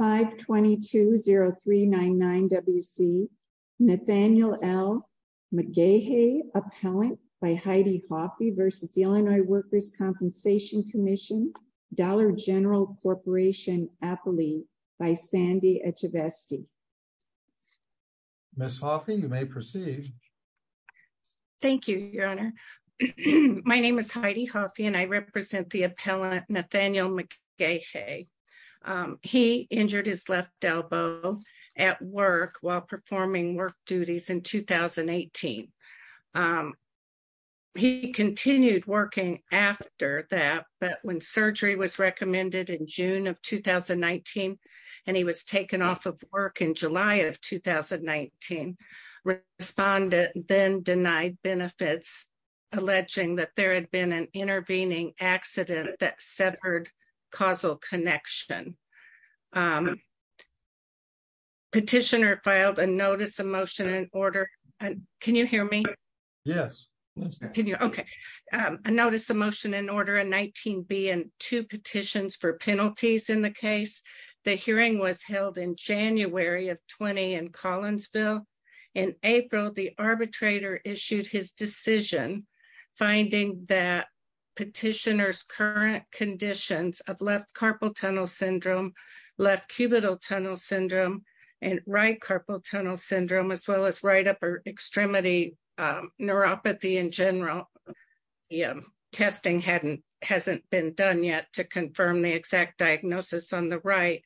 522-0399-WC Nathaniel L. McGaha, Appellant by Heidi Hoffe v. The Illinois Workers' Compensation Comm'n Dollar General Corporation, Appali by Sandy Etcheveste. Ms. Hoffe, you may proceed. Thank you, Your Honor. My name is Heidi Hoffe and I represent the appellant Nathaniel McGaha. He injured his left elbow at work while performing work duties in 2018. He continued working after that, but when surgery was recommended in June of 2019 and he was taken off of work in July of 2019, respondents then denied benefits, alleging that there had been an intervening accident that severed causal connection. Petitioner filed a notice of motion and order. Can you hear me? Yes. Okay. A notice of motion and order in 19B and two petitions for penalties in the case. The hearing was held in January of 2020 in Collinsville. In April, the arbitrator issued his decision, finding that petitioner's current conditions of left carpal tunnel syndrome, left cubital tunnel syndrome, and right carpal tunnel syndrome, as well as right upper extremity neuropathy in general, testing hasn't been done yet to confirm the exact diagnosis on the right.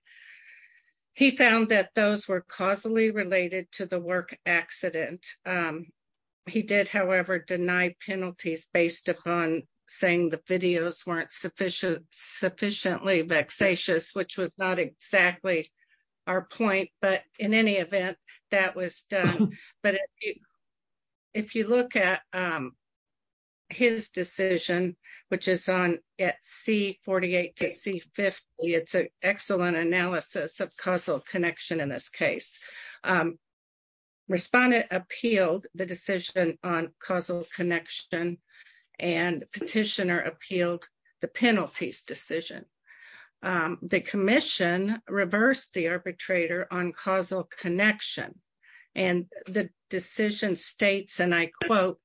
He found that those were causally related to the work accident. He did, however, deny penalties based upon saying the videos weren't sufficiently vexatious, which was not exactly our point, but in any event, that was done. But if you look at his decision, which is on at C48 to C50, it's an excellent analysis of causal connection in this case. Respondent appealed the decision on causal connection, and petitioner appealed the penalties decision. The commission reversed the arbitrator on causal connection, and the decision states, and I quote,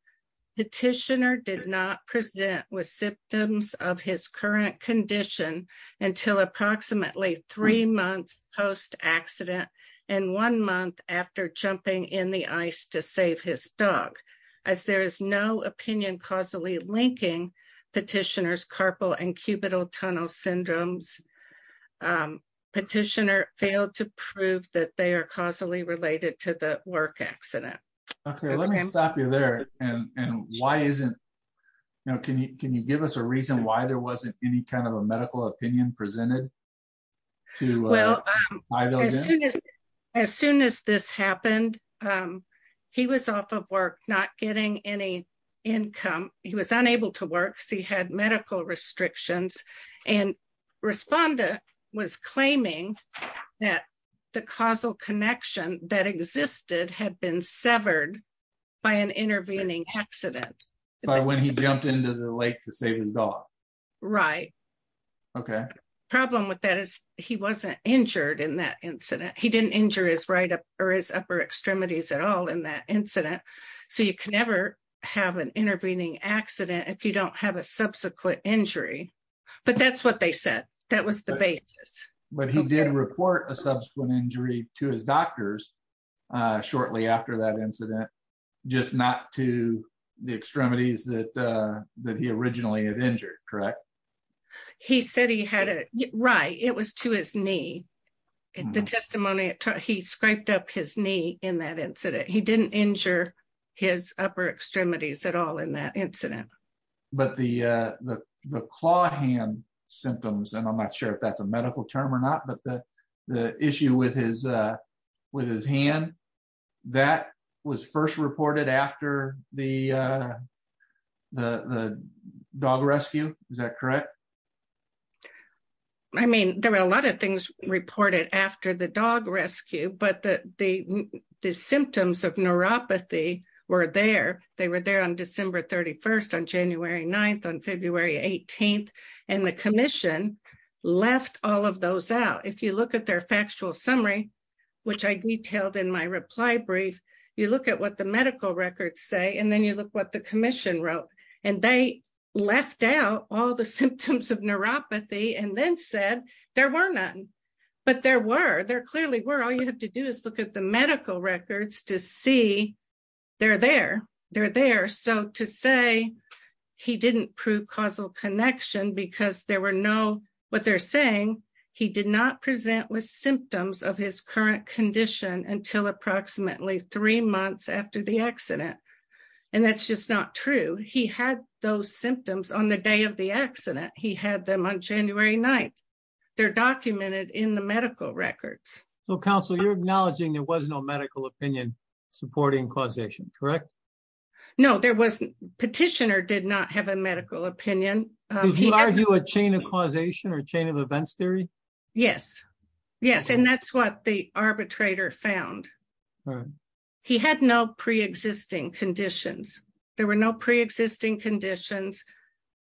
petitioner did not present with symptoms of his current condition until approximately three months post-accident, and one month after jumping in the ice to save his dog. As there is no opinion causally linking petitioner's carpal and cubital tunnel syndromes, petitioner failed to prove that they are causally related to the work accident. Okay, let me stop you there, and why isn't, you know, can you give us a reason why there wasn't any kind of a medical opinion presented? Well, as soon as this happened, he was off of work, not getting any income. He was unable to work because he had medical restrictions, and respondent was claiming that the causal connection that existed had been severed by an intervening accident. By when he jumped into the lake to save his dog? Right. Okay. Problem with that is he wasn't injured in that incident. He didn't injure his right or his upper extremities at all in that incident, so you can never have an intervening accident if you don't have a subsequent injury, but that's what they said. That was the basis. But he did report a subsequent injury to his doctors shortly after that incident, just not to the extremities that he originally had injured, correct? He said he had it, right, it was to his knee. In the testimony, he scraped up his knee in that incident. He didn't injure his upper extremities at all in that incident. But the claw hand symptoms, and I'm not sure if that's a medical term or not, but the issue with his hand, that was first reported after the dog rescue, is that correct? I mean, there were a lot of things reported after the dog rescue, but the symptoms of neuropathy were there. They were there on December 31st, on January 9th, on February 18th, and the commission left all of those out. If you look at their factual summary, which I detailed in my reply brief, you look at what the medical records say, and then you look what the commission wrote, and they left out all the symptoms of neuropathy and then said there were none. But there were, there clearly were. All you have to do is look at the medical records to see they're there. They're there. So to say he didn't prove causal connection because there were no, what they're saying, he did not present with symptoms of his current condition until approximately three months after the accident. And that's just not true. He had those symptoms on the day of the accident. So counsel, you're acknowledging there was no medical opinion supporting causation, correct? No, there wasn't. Petitioner did not have a medical opinion. Did you argue a chain of causation or chain of events theory? Yes. Yes. And that's what the arbitrator found. He had no pre-existing conditions. There were no pre-existing conditions.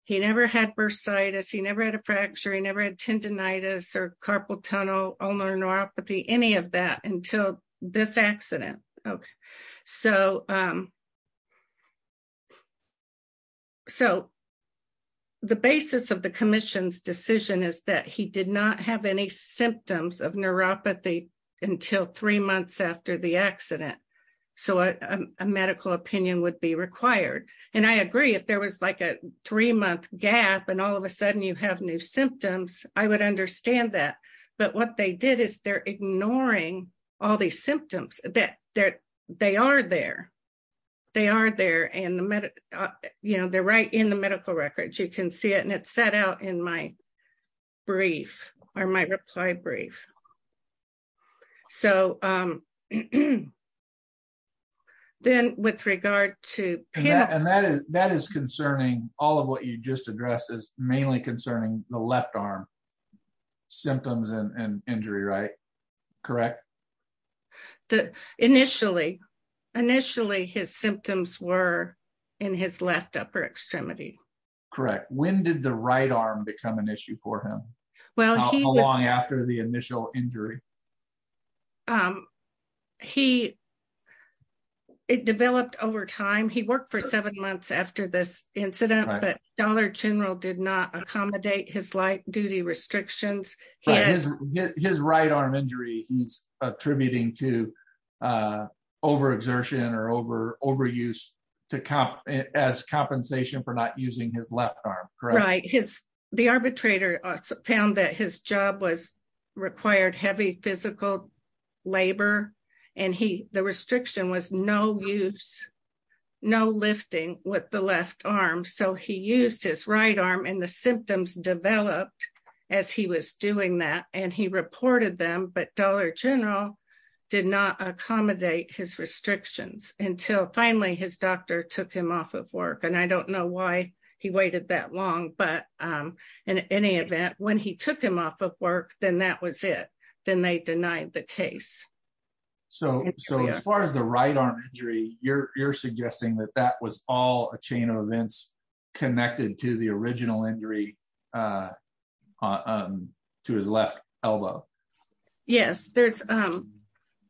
He never had bursitis, he never had a fracture, he never had tendinitis or carpal tunnel, ulnar neuropathy, any of that until this accident. So the basis of the commission's decision is that he did not have any symptoms of neuropathy until three months after the accident. So a medical opinion would be new symptoms. I would understand that. But what they did is they're ignoring all these symptoms. They are there. They are there and they're right in the medical records. You can see it and it's set out in my brief or my reply brief. So then with regard to- And that is concerning all of what you just addressed is mainly concerning the left arm symptoms and injury, right? Correct? Initially, initially, his symptoms were in his left upper extremity. Correct. When did the right arm become an issue for him? Well, how long after the initial injury? It developed over time. He worked for seven months after this incident, but Dollar General did not accommodate his light duty restrictions. His right arm injury, he's attributing to overexertion or overuse as compensation for not using his left arm, correct? Right. The arbitrator found that his job required heavy physical labor and the restriction was no use, no lifting with the left arm. So he used his right arm and the symptoms developed as he was doing that. And he reported them, but Dollar General did not accommodate his restrictions until finally his doctor took him off of work. And I don't know why he waited that long, but in any event, when he took him off of work, then that was it. Then they denied the case. So as far as the right arm injury, you're suggesting that that was all a chain of events connected to the original injury to his left elbow? Yes. And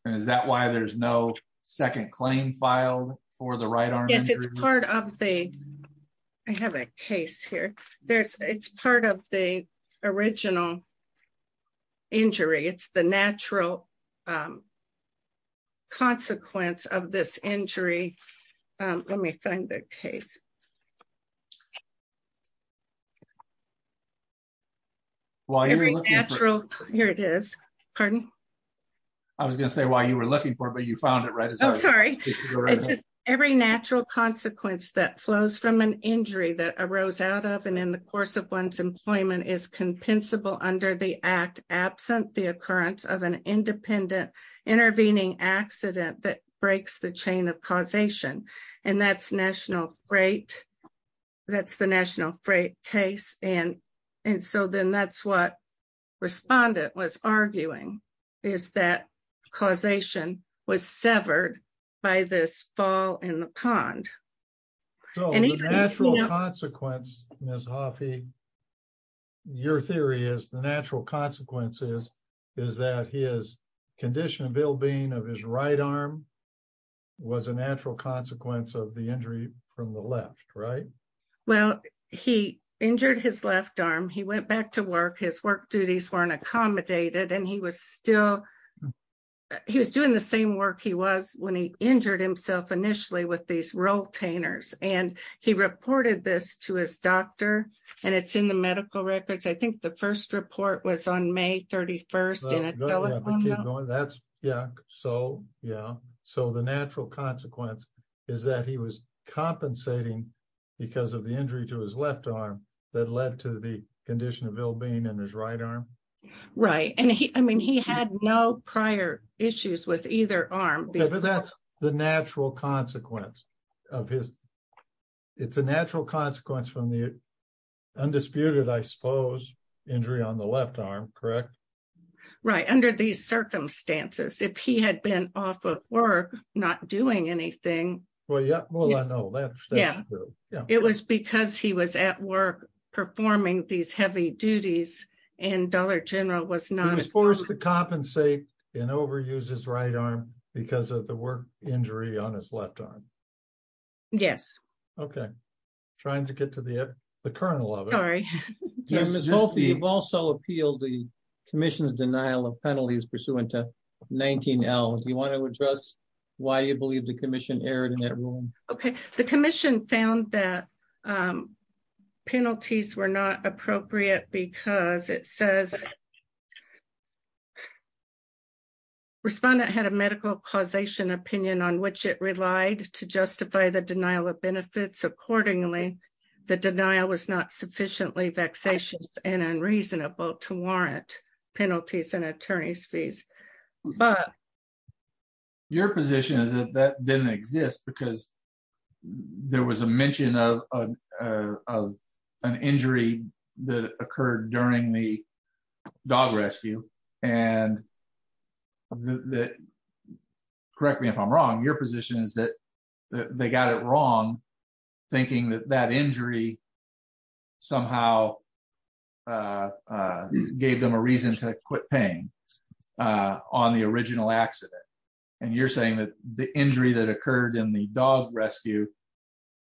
is that why there's no right arm injury? I have a case here. It's part of the original injury. It's the natural consequence of this injury. Let me find the case. Here it is. Pardon? I was going to say why you were looking for it, but you found it, right? It's just every natural consequence that flows from an injury that arose out of and in the course of one's employment is compensable under the act absent the occurrence of an independent intervening accident that breaks the chain of causation. And that's the National Freight case. And so then that's what respondent was arguing is that causation was severed by this fall in the pond. So the natural consequence, Ms. Hoffey, your theory is the natural consequences is that his condition of ill-being of his right arm was a natural consequence of the injury from the left, right? Well, he injured his left arm. He went back to work. His work duties weren't accommodated. And he was still he was doing the same work he was when he injured himself initially with these rotators. And he reported this to his doctor. And it's in the medical records. I think the first report was on May 31st. No, that's yeah. So yeah. So the natural consequence is that he was compensating because of the injury to his left arm that led to the condition of ill-being in his right arm. Right. And I mean, he had no prior issues with either arm. That's the natural consequence of his. It's a natural consequence from the disputed, I suppose, injury on the left arm, correct? Right. Under these circumstances, if he had been off of work, not doing anything. Well, yeah. Well, I know that. Yeah. It was because he was at work performing these heavy duties. And Dollar General was not forced to compensate and overuse his right arm because of the work injury on his left arm. Yes. Okay. Trying to get to the kernel of it. Sorry. Jim, you've also appealed the commission's denial of penalties pursuant to 19L. Do you want to address why you believe the commission erred in that rule? Okay. The commission found that penalties were not appropriate because it says respondent had a medical causation opinion on which it relied to justify the denial of benefits accordingly. The denial was not sufficiently vexatious and unreasonable to warrant penalties and attorney's fees. But your position is that that didn't exist because there was a mention of an injury that occurred during the dog rescue. And the correct me if I'm wrong, your position is that they got it wrong, thinking that that injury somehow gave them a reason to quit paying on the original accident. And you're saying that the injury that occurred in the dog rescue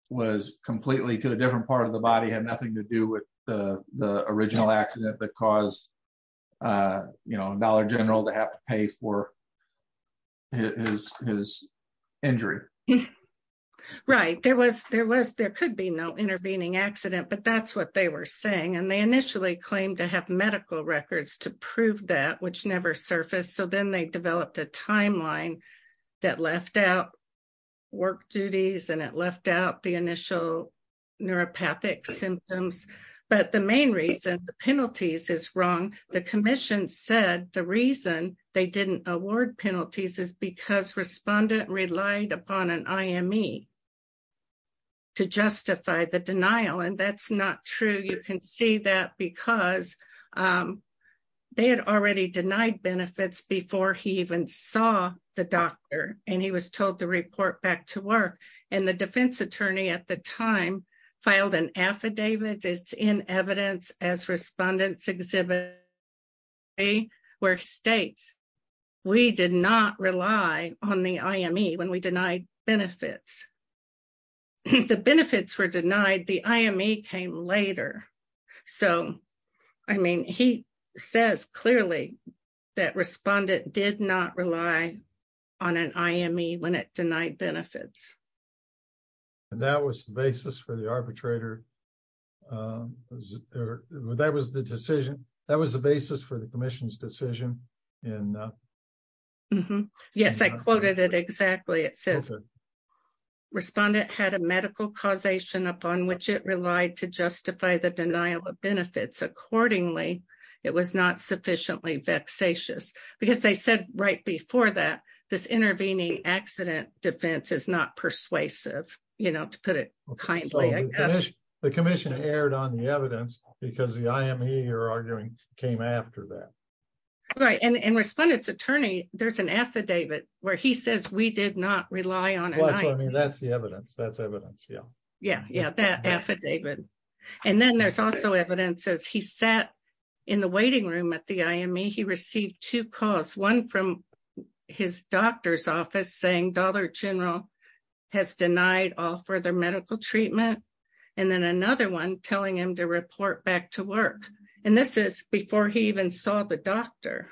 was completely to a different part of the body had to do with the original accident that caused a dollar general to have to pay for his injury. Right. There could be no intervening accident, but that's what they were saying. And they initially claimed to have medical records to prove that which never surfaced. So then they But the main reason the penalties is wrong. The commission said the reason they didn't award penalties is because respondent relied upon an IME to justify the denial. And that's not true. You can see that because they had already denied benefits before he even saw the doctor and he was told to report back to it's in evidence as respondents exhibit a where states we did not rely on the IME when we denied benefits. The benefits were denied. The IME came later. So I mean, he says clearly that respondent did not rely on an IME when it denied benefits. And that was the basis for the arbitrator. That was the decision. That was the basis for the commission's decision. Yes, I quoted it exactly. It says respondent had a medical causation upon which it relied to justify the denial of benefits. Accordingly, it was not sufficiently vexatious because they said right before that this intervening accident defense is not persuasive. The commission erred on the evidence because the IME you're arguing came after that. Right. And respondent's attorney, there's an affidavit where he says we did not rely on. That's the evidence. That's evidence. Yeah. Yeah. Yeah. That affidavit. And then there's also evidence as he sat in the waiting room at the IME, he received two calls, one from his doctor's office saying Dollar General has denied all further medical treatment. And then another one telling him to report back to work. And this is before he even saw the doctor.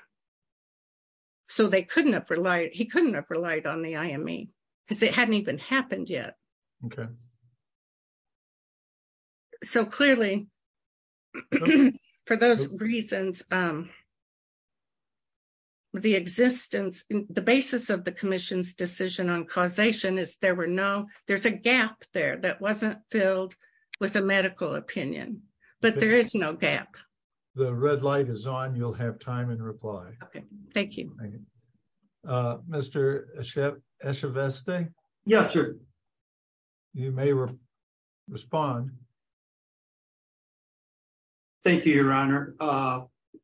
So they couldn't have relied. He couldn't have relied on the IME because it hadn't even happened yet. Okay. So clearly, for those reasons, the existence, the basis of the commission's decision on causation is there were no, there's a gap there that wasn't filled with a medical opinion, but there is no gap. The red light is on. You'll have time and reply. Okay, thank you. Uh, Mr. Echeveste. Yes, sir. You may respond. Thank you, your honor. Uh,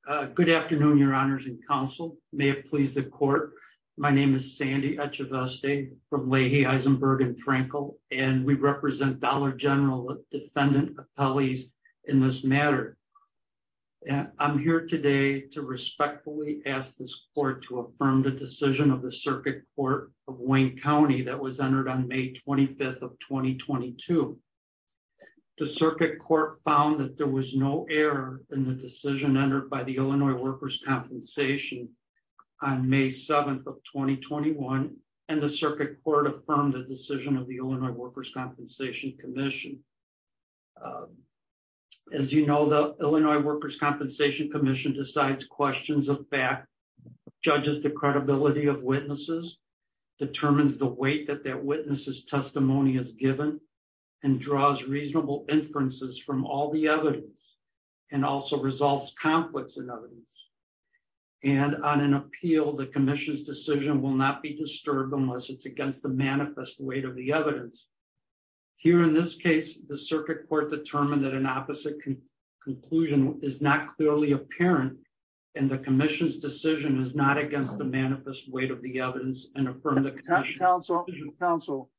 uh, good afternoon, your honors and counsel may have pleased the court. My name is Sandy Echeveste from Leahy, Eisenberg and Frankel, and we represent Dollar General, a defendant of police in this matter. And I'm here today to respectfully ask this court to affirm the decision of the circuit court of Wayne County that was entered on May 25th of 2022. The circuit court found that there was no error in the decision entered by the Illinois workers compensation on May 7th of 2021. And the circuit court affirmed the decision of the Illinois workers' compensation commission. Uh, as you know, the Illinois workers' compensation commission decides questions of back judges, the credibility of witnesses determines the weight that their witnesses testimony is given and draws reasonable inferences from all the evidence and also results conflicts in evidence. And on an appeal, the commission's decision will not be disturbed unless it's against the manifest weight of the evidence here. In this case, the circuit court determined that an opposite conclusion is not clearly apparent. And the commission's decision is not against the manifest weight of the evidence and from the council council.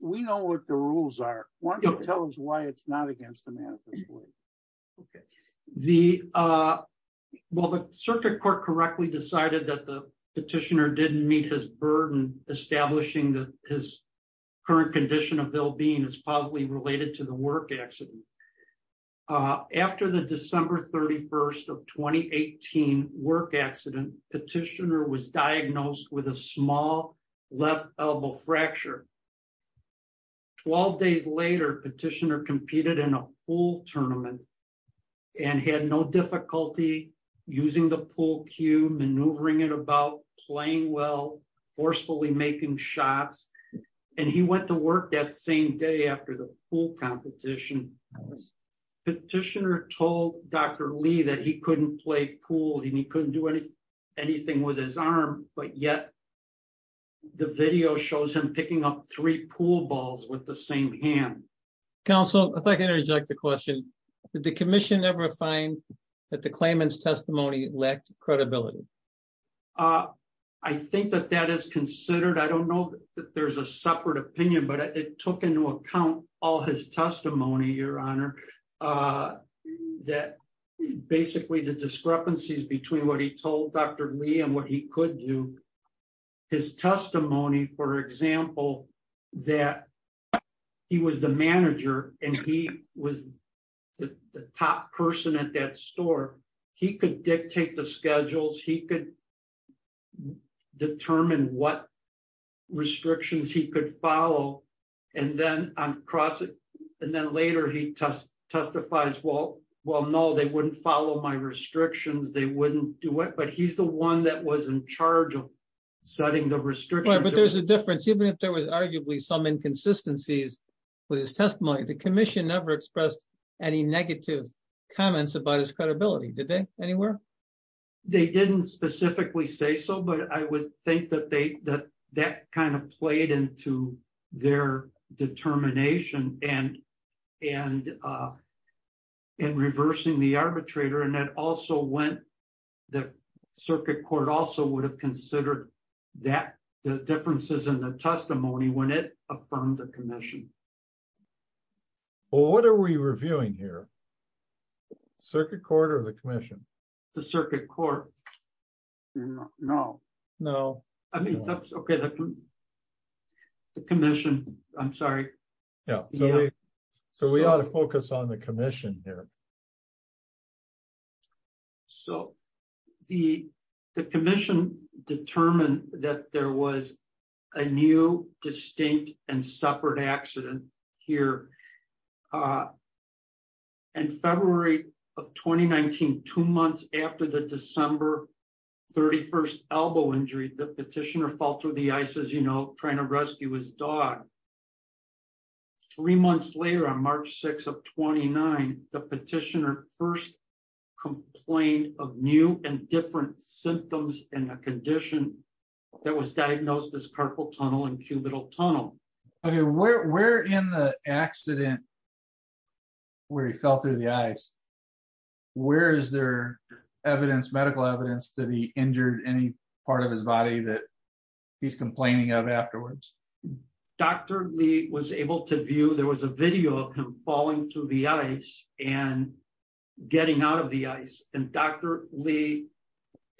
We know what the rules are. Why don't you tell us why it's not against the manifest way? Okay. The, uh, well, the circuit court correctly decided that the petitioner didn't meet his burden, establishing his current condition of ill being is possibly related to the work accident. Uh, after the December 31st of 2018 work accident petitioner was diagnosed with a small left elbow fracture. 12 days later, petitioner competed in a pool tournament and had no and he went to work that same day after the pool competition. Petitioner told Dr. Lee that he couldn't play pool and he couldn't do anything with his arm, but yet the video shows him picking up three pool balls with the same hand. Counsel, if I can interject the question, did the commission ever find that the claimant's testimony lacked credibility? Uh, I think that that is considered. I don't know that there's a separate opinion, but it took into account all his testimony, your honor, uh, that basically the discrepancies between what he told Dr. Lee and what he could do his testimony. For example, that he was the manager and he was the top person at that store. He could dictate the schedules. He could determine what restrictions he could follow. And then I'm crossing. And then later he test testifies. Well, well, no, they wouldn't follow my restrictions. They wouldn't do it, but he's the one that was in charge of setting the restriction. But there's a difference, even if there was arguably some inconsistencies with his testimony, the commission never expressed any negative comments about his credibility. Did they anywhere? They didn't specifically say so, but I would think that they, that that kind of played into their determination and, and, uh, and reversing the arbitrator. And that also went, the circuit court also would have considered that the differences in the testimony when it from the commission. Well, what are we reviewing here? Circuit court or the commission, the circuit court? No, no. I mean, that's okay. The commission, I'm sorry. Yeah. So we ought to focus on the commission here. So the, the commission determined that there was a new distinct and separate accident here. Uh, and February of 2019, two months after the December 31st elbow injury, the petitioner fall through the ice as you know, trying to rescue his dog three months later on March 6th of 29, the petitioner first complaint of new and different symptoms and a condition that was diagnosed as carpal tunnel and cubital tunnel. Okay. Where, where in the accident where he fell through the ice, where is there evidence, medical evidence that he injured any part of his body that he's complaining of afterwards? Dr. Lee was able to view, there was a video of him falling through the ice and getting out of the ice and Dr. Lee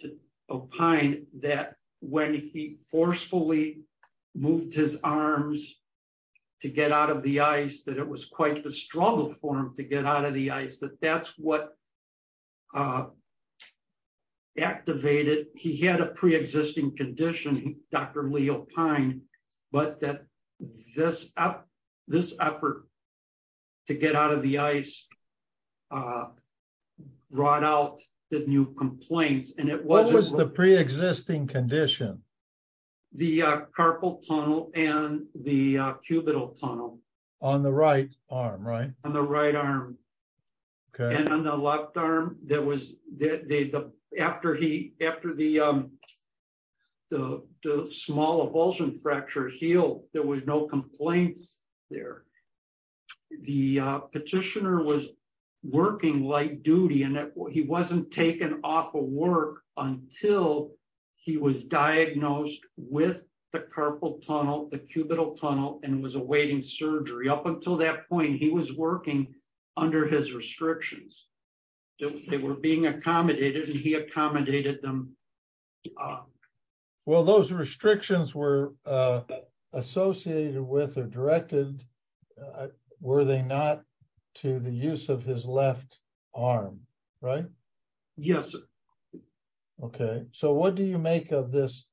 to opine that when he forcefully moved his arms to get out of the ice, that it was quite the struggle for him to get out of the ice, that that's what, uh, Activated. He had a preexisting condition, Dr. Leo pine, but that this up, this effort to get out of the ice, uh, brought out the new complaints and it wasn't the preexisting condition, the, uh, carpal tunnel and the, uh, cubital tunnel on the right arm, right on the right arm. Okay. And on the left arm, there was the, the, the, after he, after the, um, the, the small evulsion fracture heel, there was no complaints there. The, uh, petitioner was working light duty and he wasn't taken off of work until he was diagnosed with the carpal tunnel, the cubital tunnel, and was awaiting surgery. Up until that point, he was working under his restrictions. They were being accommodated and he accommodated them. Um, well, those restrictions were, uh, associated with or directed, were they not to the use of his left arm, right? Yes. Okay. So what do you make of this,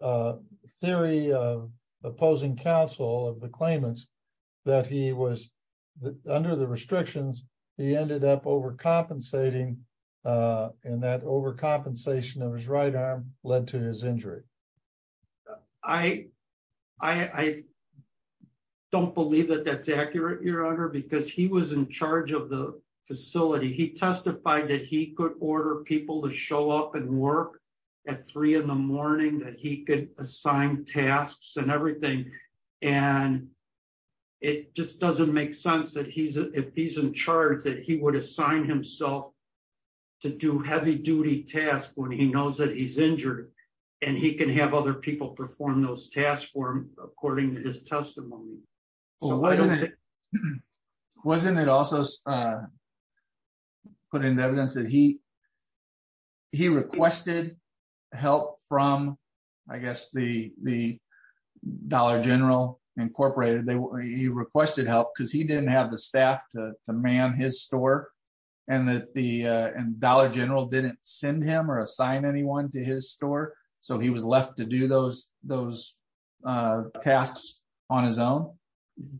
uh, theory of opposing counsel of the claimants that he was under the restrictions, he ended up compensating, uh, and that overcompensation of his right arm led to his injury. I, I don't believe that that's accurate, your honor, because he was in charge of the facility. He testified that he could order people to show up and work at three in the morning, that he could assign tasks and everything. And it just doesn't make sense that he's, if he's in charge that he would assign himself to do heavy duty tasks when he knows that he's injured and he can have other people perform those tasks for him, according to his testimony. Wasn't it also, uh, put into evidence that he, he requested help from, I guess, the, the general incorporated they, he requested help because he didn't have the staff to man his store and that the, uh, and dollar general didn't send him or assign anyone to his store. So he was left to do those, those, uh, tasks on his own.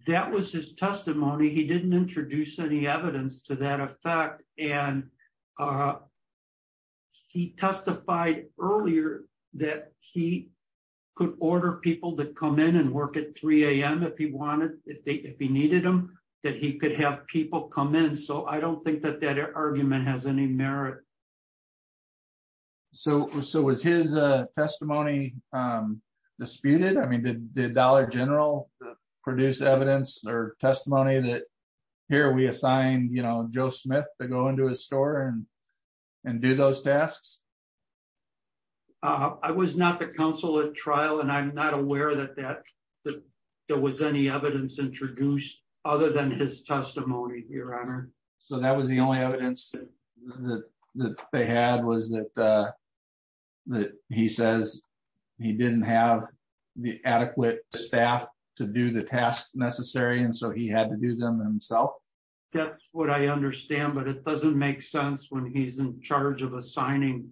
That was his testimony. He didn't introduce any evidence to that effect. And, uh, he testified earlier that he could order people to come in and work at 3 a.m. If he wanted, if they, if he needed them, that he could have people come in. So I don't think that that argument has any merit. So, so was his, uh, testimony, um, disputed? I mean, did the dollar general produce evidence or testimony that here we assigned, you know, Joe Smith to go into his store and, and do those tasks. Uh, I was not the council at trial and I'm not aware that that, that there was any evidence introduced other than his testimony here on her. So that was the only evidence that they had was that, uh, that he says he didn't have the adequate staff to do the tasks necessary. And so he had to do them himself. That's what I understand, but it doesn't make sense when he's in charge of assigning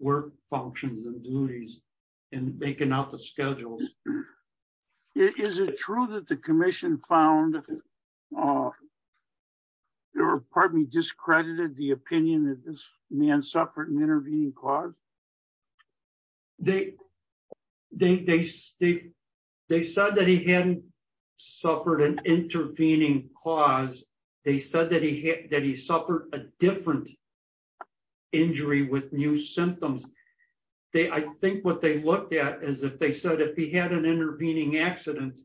work functions and duties and making up the schedules. Is it true that the commission found, uh, or pardon me, discredited the opinion that this man suffered an intervening cause? They, they, they, they said that he hadn't suffered an intervening cause. They said that that he suffered a different injury with new symptoms. They, I think what they looked at is if they said, if he had an intervening accident,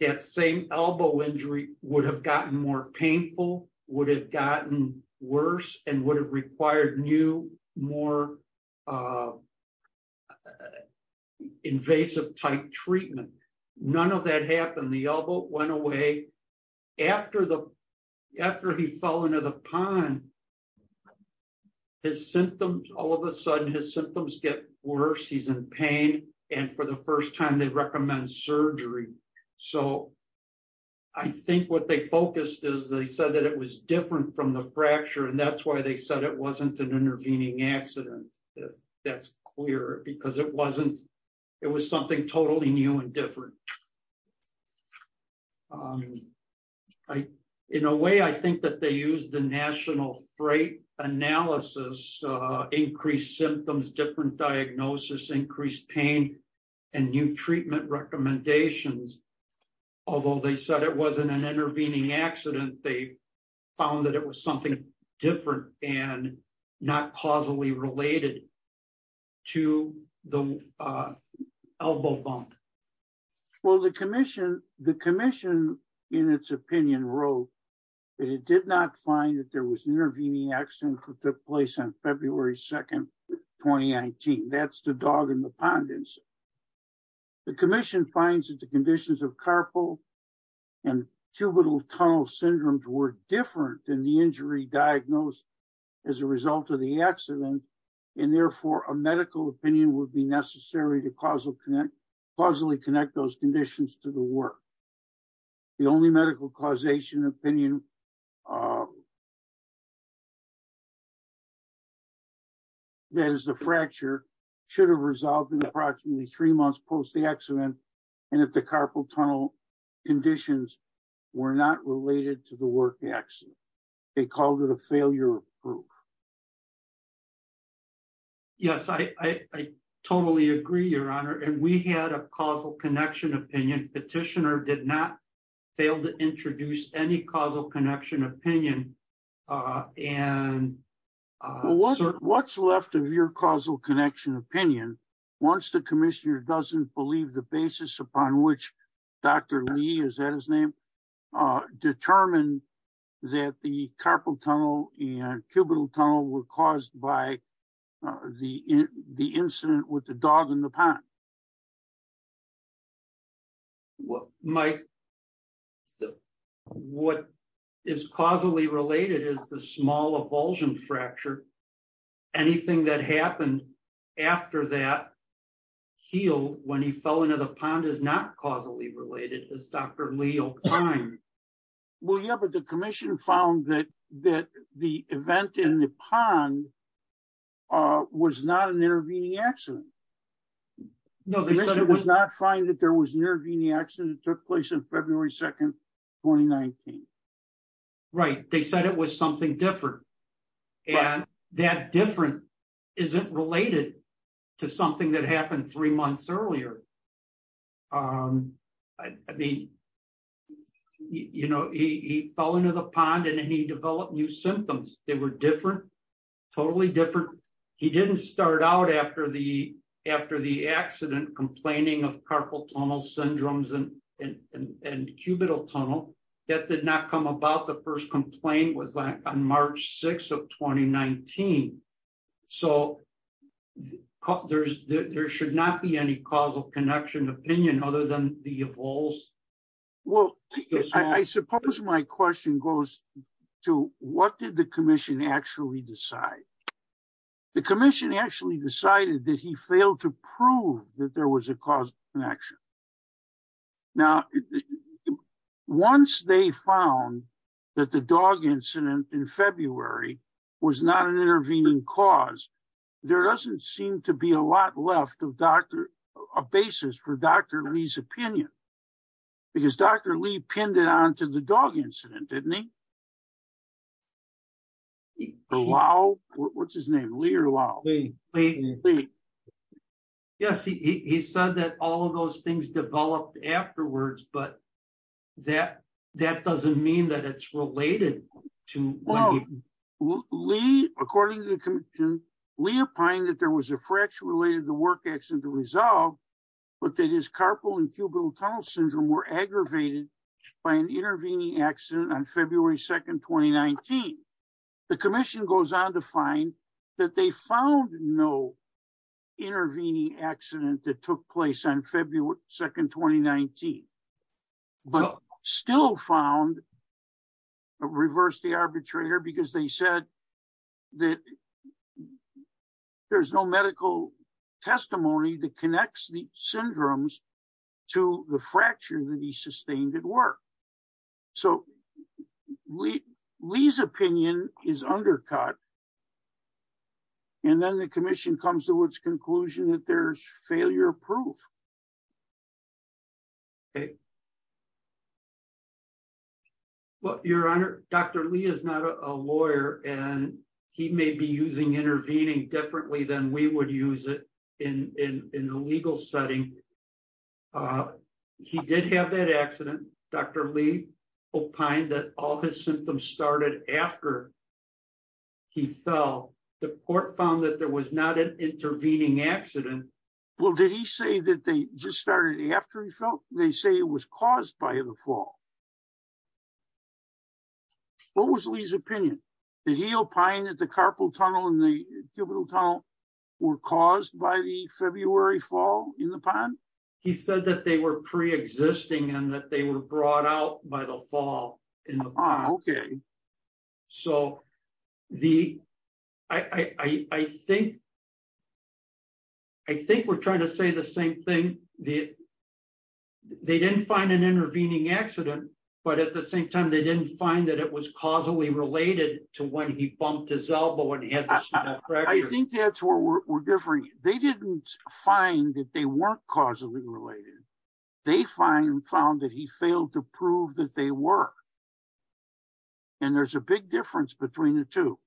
that same elbow injury would have gotten more painful, would have gotten worse and would have required new, more, uh, invasive type treatment. None of that happened. The elbow went away after the, after he fell into the pond, his symptoms, all of a sudden his symptoms get worse. He's in pain. And for the first time they recommend surgery. So I think what they focused is they said that it was different from the fracture and that's why they said it wasn't an intervening accident. That's clear because it wasn't, it was something totally new and different. Um, I, in a way I think that they used the national freight analysis, uh, increased symptoms, different diagnosis, increased pain and new treatment recommendations. Although they said it wasn't an intervening accident, they found that it was something different and not causally related to the, uh, elbow bump. Well, the commission, the commission in its opinion wrote that it did not find that there was an intervening accident that took place on February 2nd, 2019. That's the dog in the pond. The commission finds that the conditions of carpal and cubital tunnel syndromes were different than the injury diagnosed as a result of the accident. And therefore a medical opinion would be necessary to causally connect those conditions to the work. The only medical causation opinion, uh, that is the fracture should have resolved in approximately three months post accident. And if the carpal tunnel conditions were not related to the work accident, they called it a failure of proof. Yes, I, I totally agree your honor. And we had a causal connection opinion. Petitioner did not fail to introduce any causal connection opinion. Uh, and, uh, what's left of your causal connection opinion, once the commissioner doesn't believe the basis upon which Dr. Lee, is that his name? Uh, determined that the carpal tunnel and cubital tunnel were caused by the, the incident with the dog in the pond. What might still, what is causally related is the small avulsion fracture. Anything that happened after that healed when he fell into the pond is not causally related as Dr. Lee. Well, yeah, but the commission found that, that the event in the pond, uh, was not an intervening accident. No, they said it was not fine that there was an intervening accident that took place in February 2nd, 2019. Right. They said it was something different and that different isn't related to something that happened three months earlier. Um, I mean, you know, he, he fell into the pond and he developed new symptoms. They were different, totally different. He didn't start out after the, after the accident complaining of carpal tunnel syndromes and, and, and cubital tunnel that did not come about the first complaint was on March 6th of 2019. So there's, there should not be any causal connection opinion other than the evolves. Well, I suppose my question goes to what did the commission actually decide? The commission actually decided that he failed to prove that there was a cause connection. Now, once they found that the dog incident in February was not an intervening cause, there doesn't seem to be a lot left of Dr., a basis for Dr. Lee's complaint. Liao, what's his name? Lee or Liao? Lee. Yes, he, he said that all of those things developed afterwards, but that, that doesn't mean that it's related to. Well, Lee, according to the commission, Lee opined that there was a fracture related to the work accident to resolve, but that his carpal and cubital tunnel syndrome were aggravated by an intervening accident on February 2nd, 2019. The commission goes on to find that they found no intervening accident that took place on February 2nd, 2019, but still found reverse the arbitrator because they said that there's no medical testimony that connects the syndromes to the fracture that he sustained at so Lee's opinion is undercut. And then the commission comes to its conclusion that there's failure of proof. Okay. Well, your honor, Dr. Lee is not a lawyer and he may be using intervening differently than we would use it in, in, in the legal setting. Uh, he did have that accident. Dr. Lee opined that all his symptoms started after he fell. The court found that there was not an intervening accident. Well, did he say that they just started after he fell? They say it was caused by the fall. What was Lee's opinion? Did he opine that the carpal tunnel and the He said that they were pre-existing and that they were brought out by the fall. So the, I think, I think we're trying to say the same thing. The, they didn't find an intervening accident, but at the same time, they didn't find that it was causally related to when he bumped his weren't causally related. They find found that he failed to prove that they were, and there's a big difference between the two.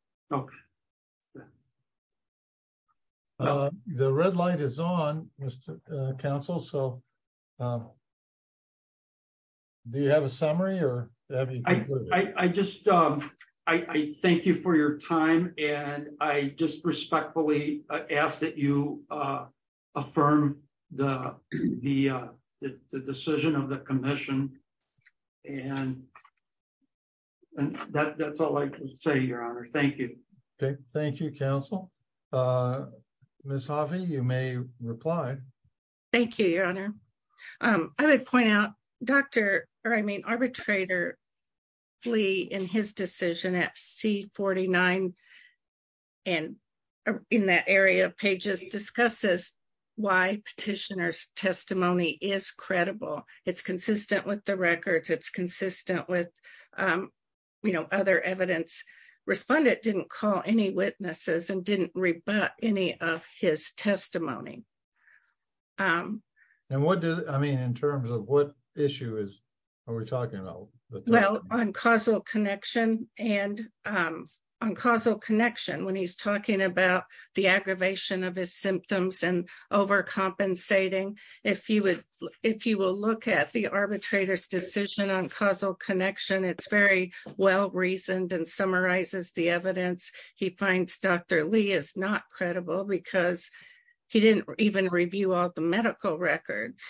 The red light is on Mr. Counsel. So do you have a summary or I just, I thank you for your time. And I just respectfully ask that you, uh, affirm the, the, uh, the, the decision of the commission and that that's all I can say, your honor. Thank you. Okay. Thank you. Council. Uh, Ms. Harvey, you may reply. Thank you, your honor. Um, I would point out Dr. or I mean, arbitrator Lee in his decision at C49 and in that area of pages discusses why petitioner's testimony is credible. It's consistent with the records. It's consistent with, you know, other evidence respondent didn't call any witnesses and didn't rebut any of his we're talking about on causal connection and, um, on causal connection when he's talking about the aggravation of his symptoms and overcompensating. If you would, if you will look at the arbitrator's decision on causal connection, it's very well reasoned and summarizes the evidence he finds Dr. Lee is not credible because he didn't even review all the medical records.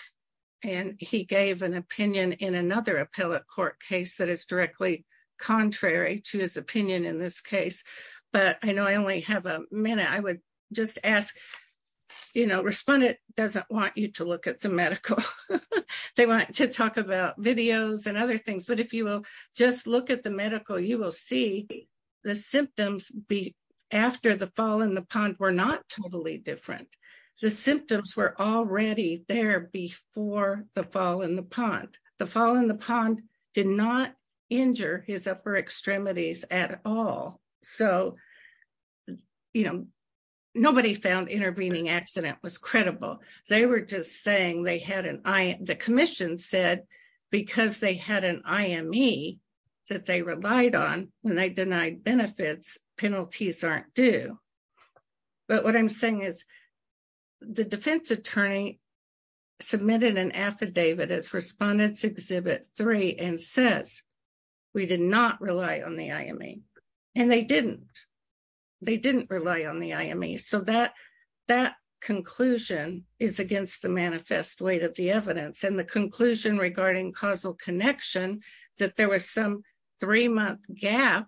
And he gave an opinion in another appellate court case that is directly contrary to his opinion in this case. But I know I only have a minute. I would just ask, you know, respondent doesn't want you to look at the medical. They want to talk about videos and other things, but if you will just look at the medical, you will see the symptoms be after the fall in the pond, not totally different. The symptoms were already there before the fall in the pond, the fall in the pond did not injure his upper extremities at all. So, you know, nobody found intervening accident was credible. They were just saying they had an eye. The commission said because they had an IME that they relied on when they denied benefits, penalties aren't due. But what I'm saying is the defense attorney submitted an affidavit as respondents exhibit three and says, we did not rely on the IME and they didn't. They didn't rely on the IME. So that conclusion is against the manifest weight of the evidence and the conclusion regarding causal connection that there was some three month gap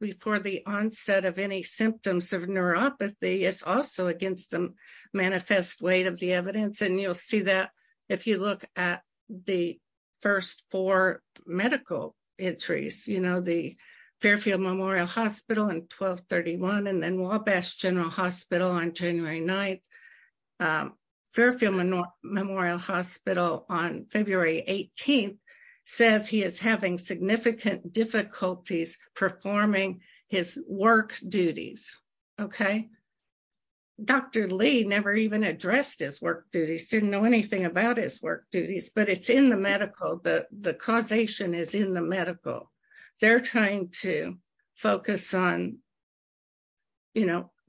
before the onset of any symptoms of neuropathy is also against the manifest weight of the evidence. And you'll see that if you look at the first four medical entries, you know, the Fairfield Memorial Hospital and 1231 and then Wabash General Hospital on January 9th. Fairfield Memorial Hospital on February 18th says he is having significant difficulties performing his work duties. Okay. Dr. Lee never even addressed his work duties, didn't know anything about his work duties, but it's in the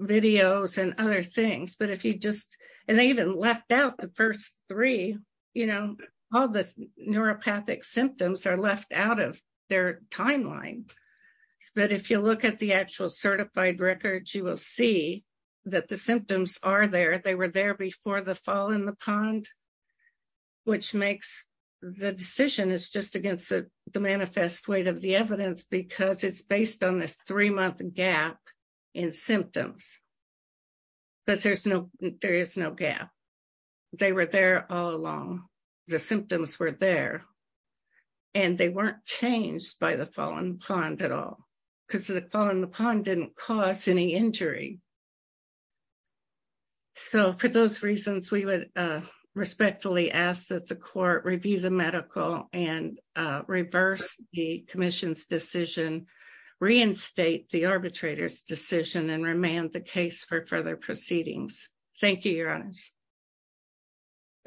videos and other things. But if you just, and they even left out the first three, you know, all this neuropathic symptoms are left out of their timeline. But if you look at the actual certified records, you will see that the symptoms are there. They were there before the fall in the pond, which makes the decision is just against the manifest weight of the evidence because it's based on this three month gap in symptoms. But there is no gap. They were there all along. The symptoms were there and they weren't changed by the fall in the pond at all because the fall in the pond didn't cause any injury. So for those reasons, we would respectfully ask that the court review the medical and reverse the commission's decision, reinstate the arbitrator's decision and remand the case for further proceedings. Thank you, your honors.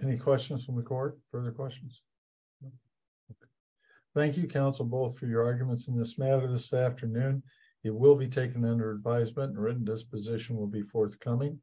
Any questions from the court? Further questions? Thank you, counsel, both for your arguments in this matter this afternoon. It will be taken under advisement and written disposition will be forthcoming.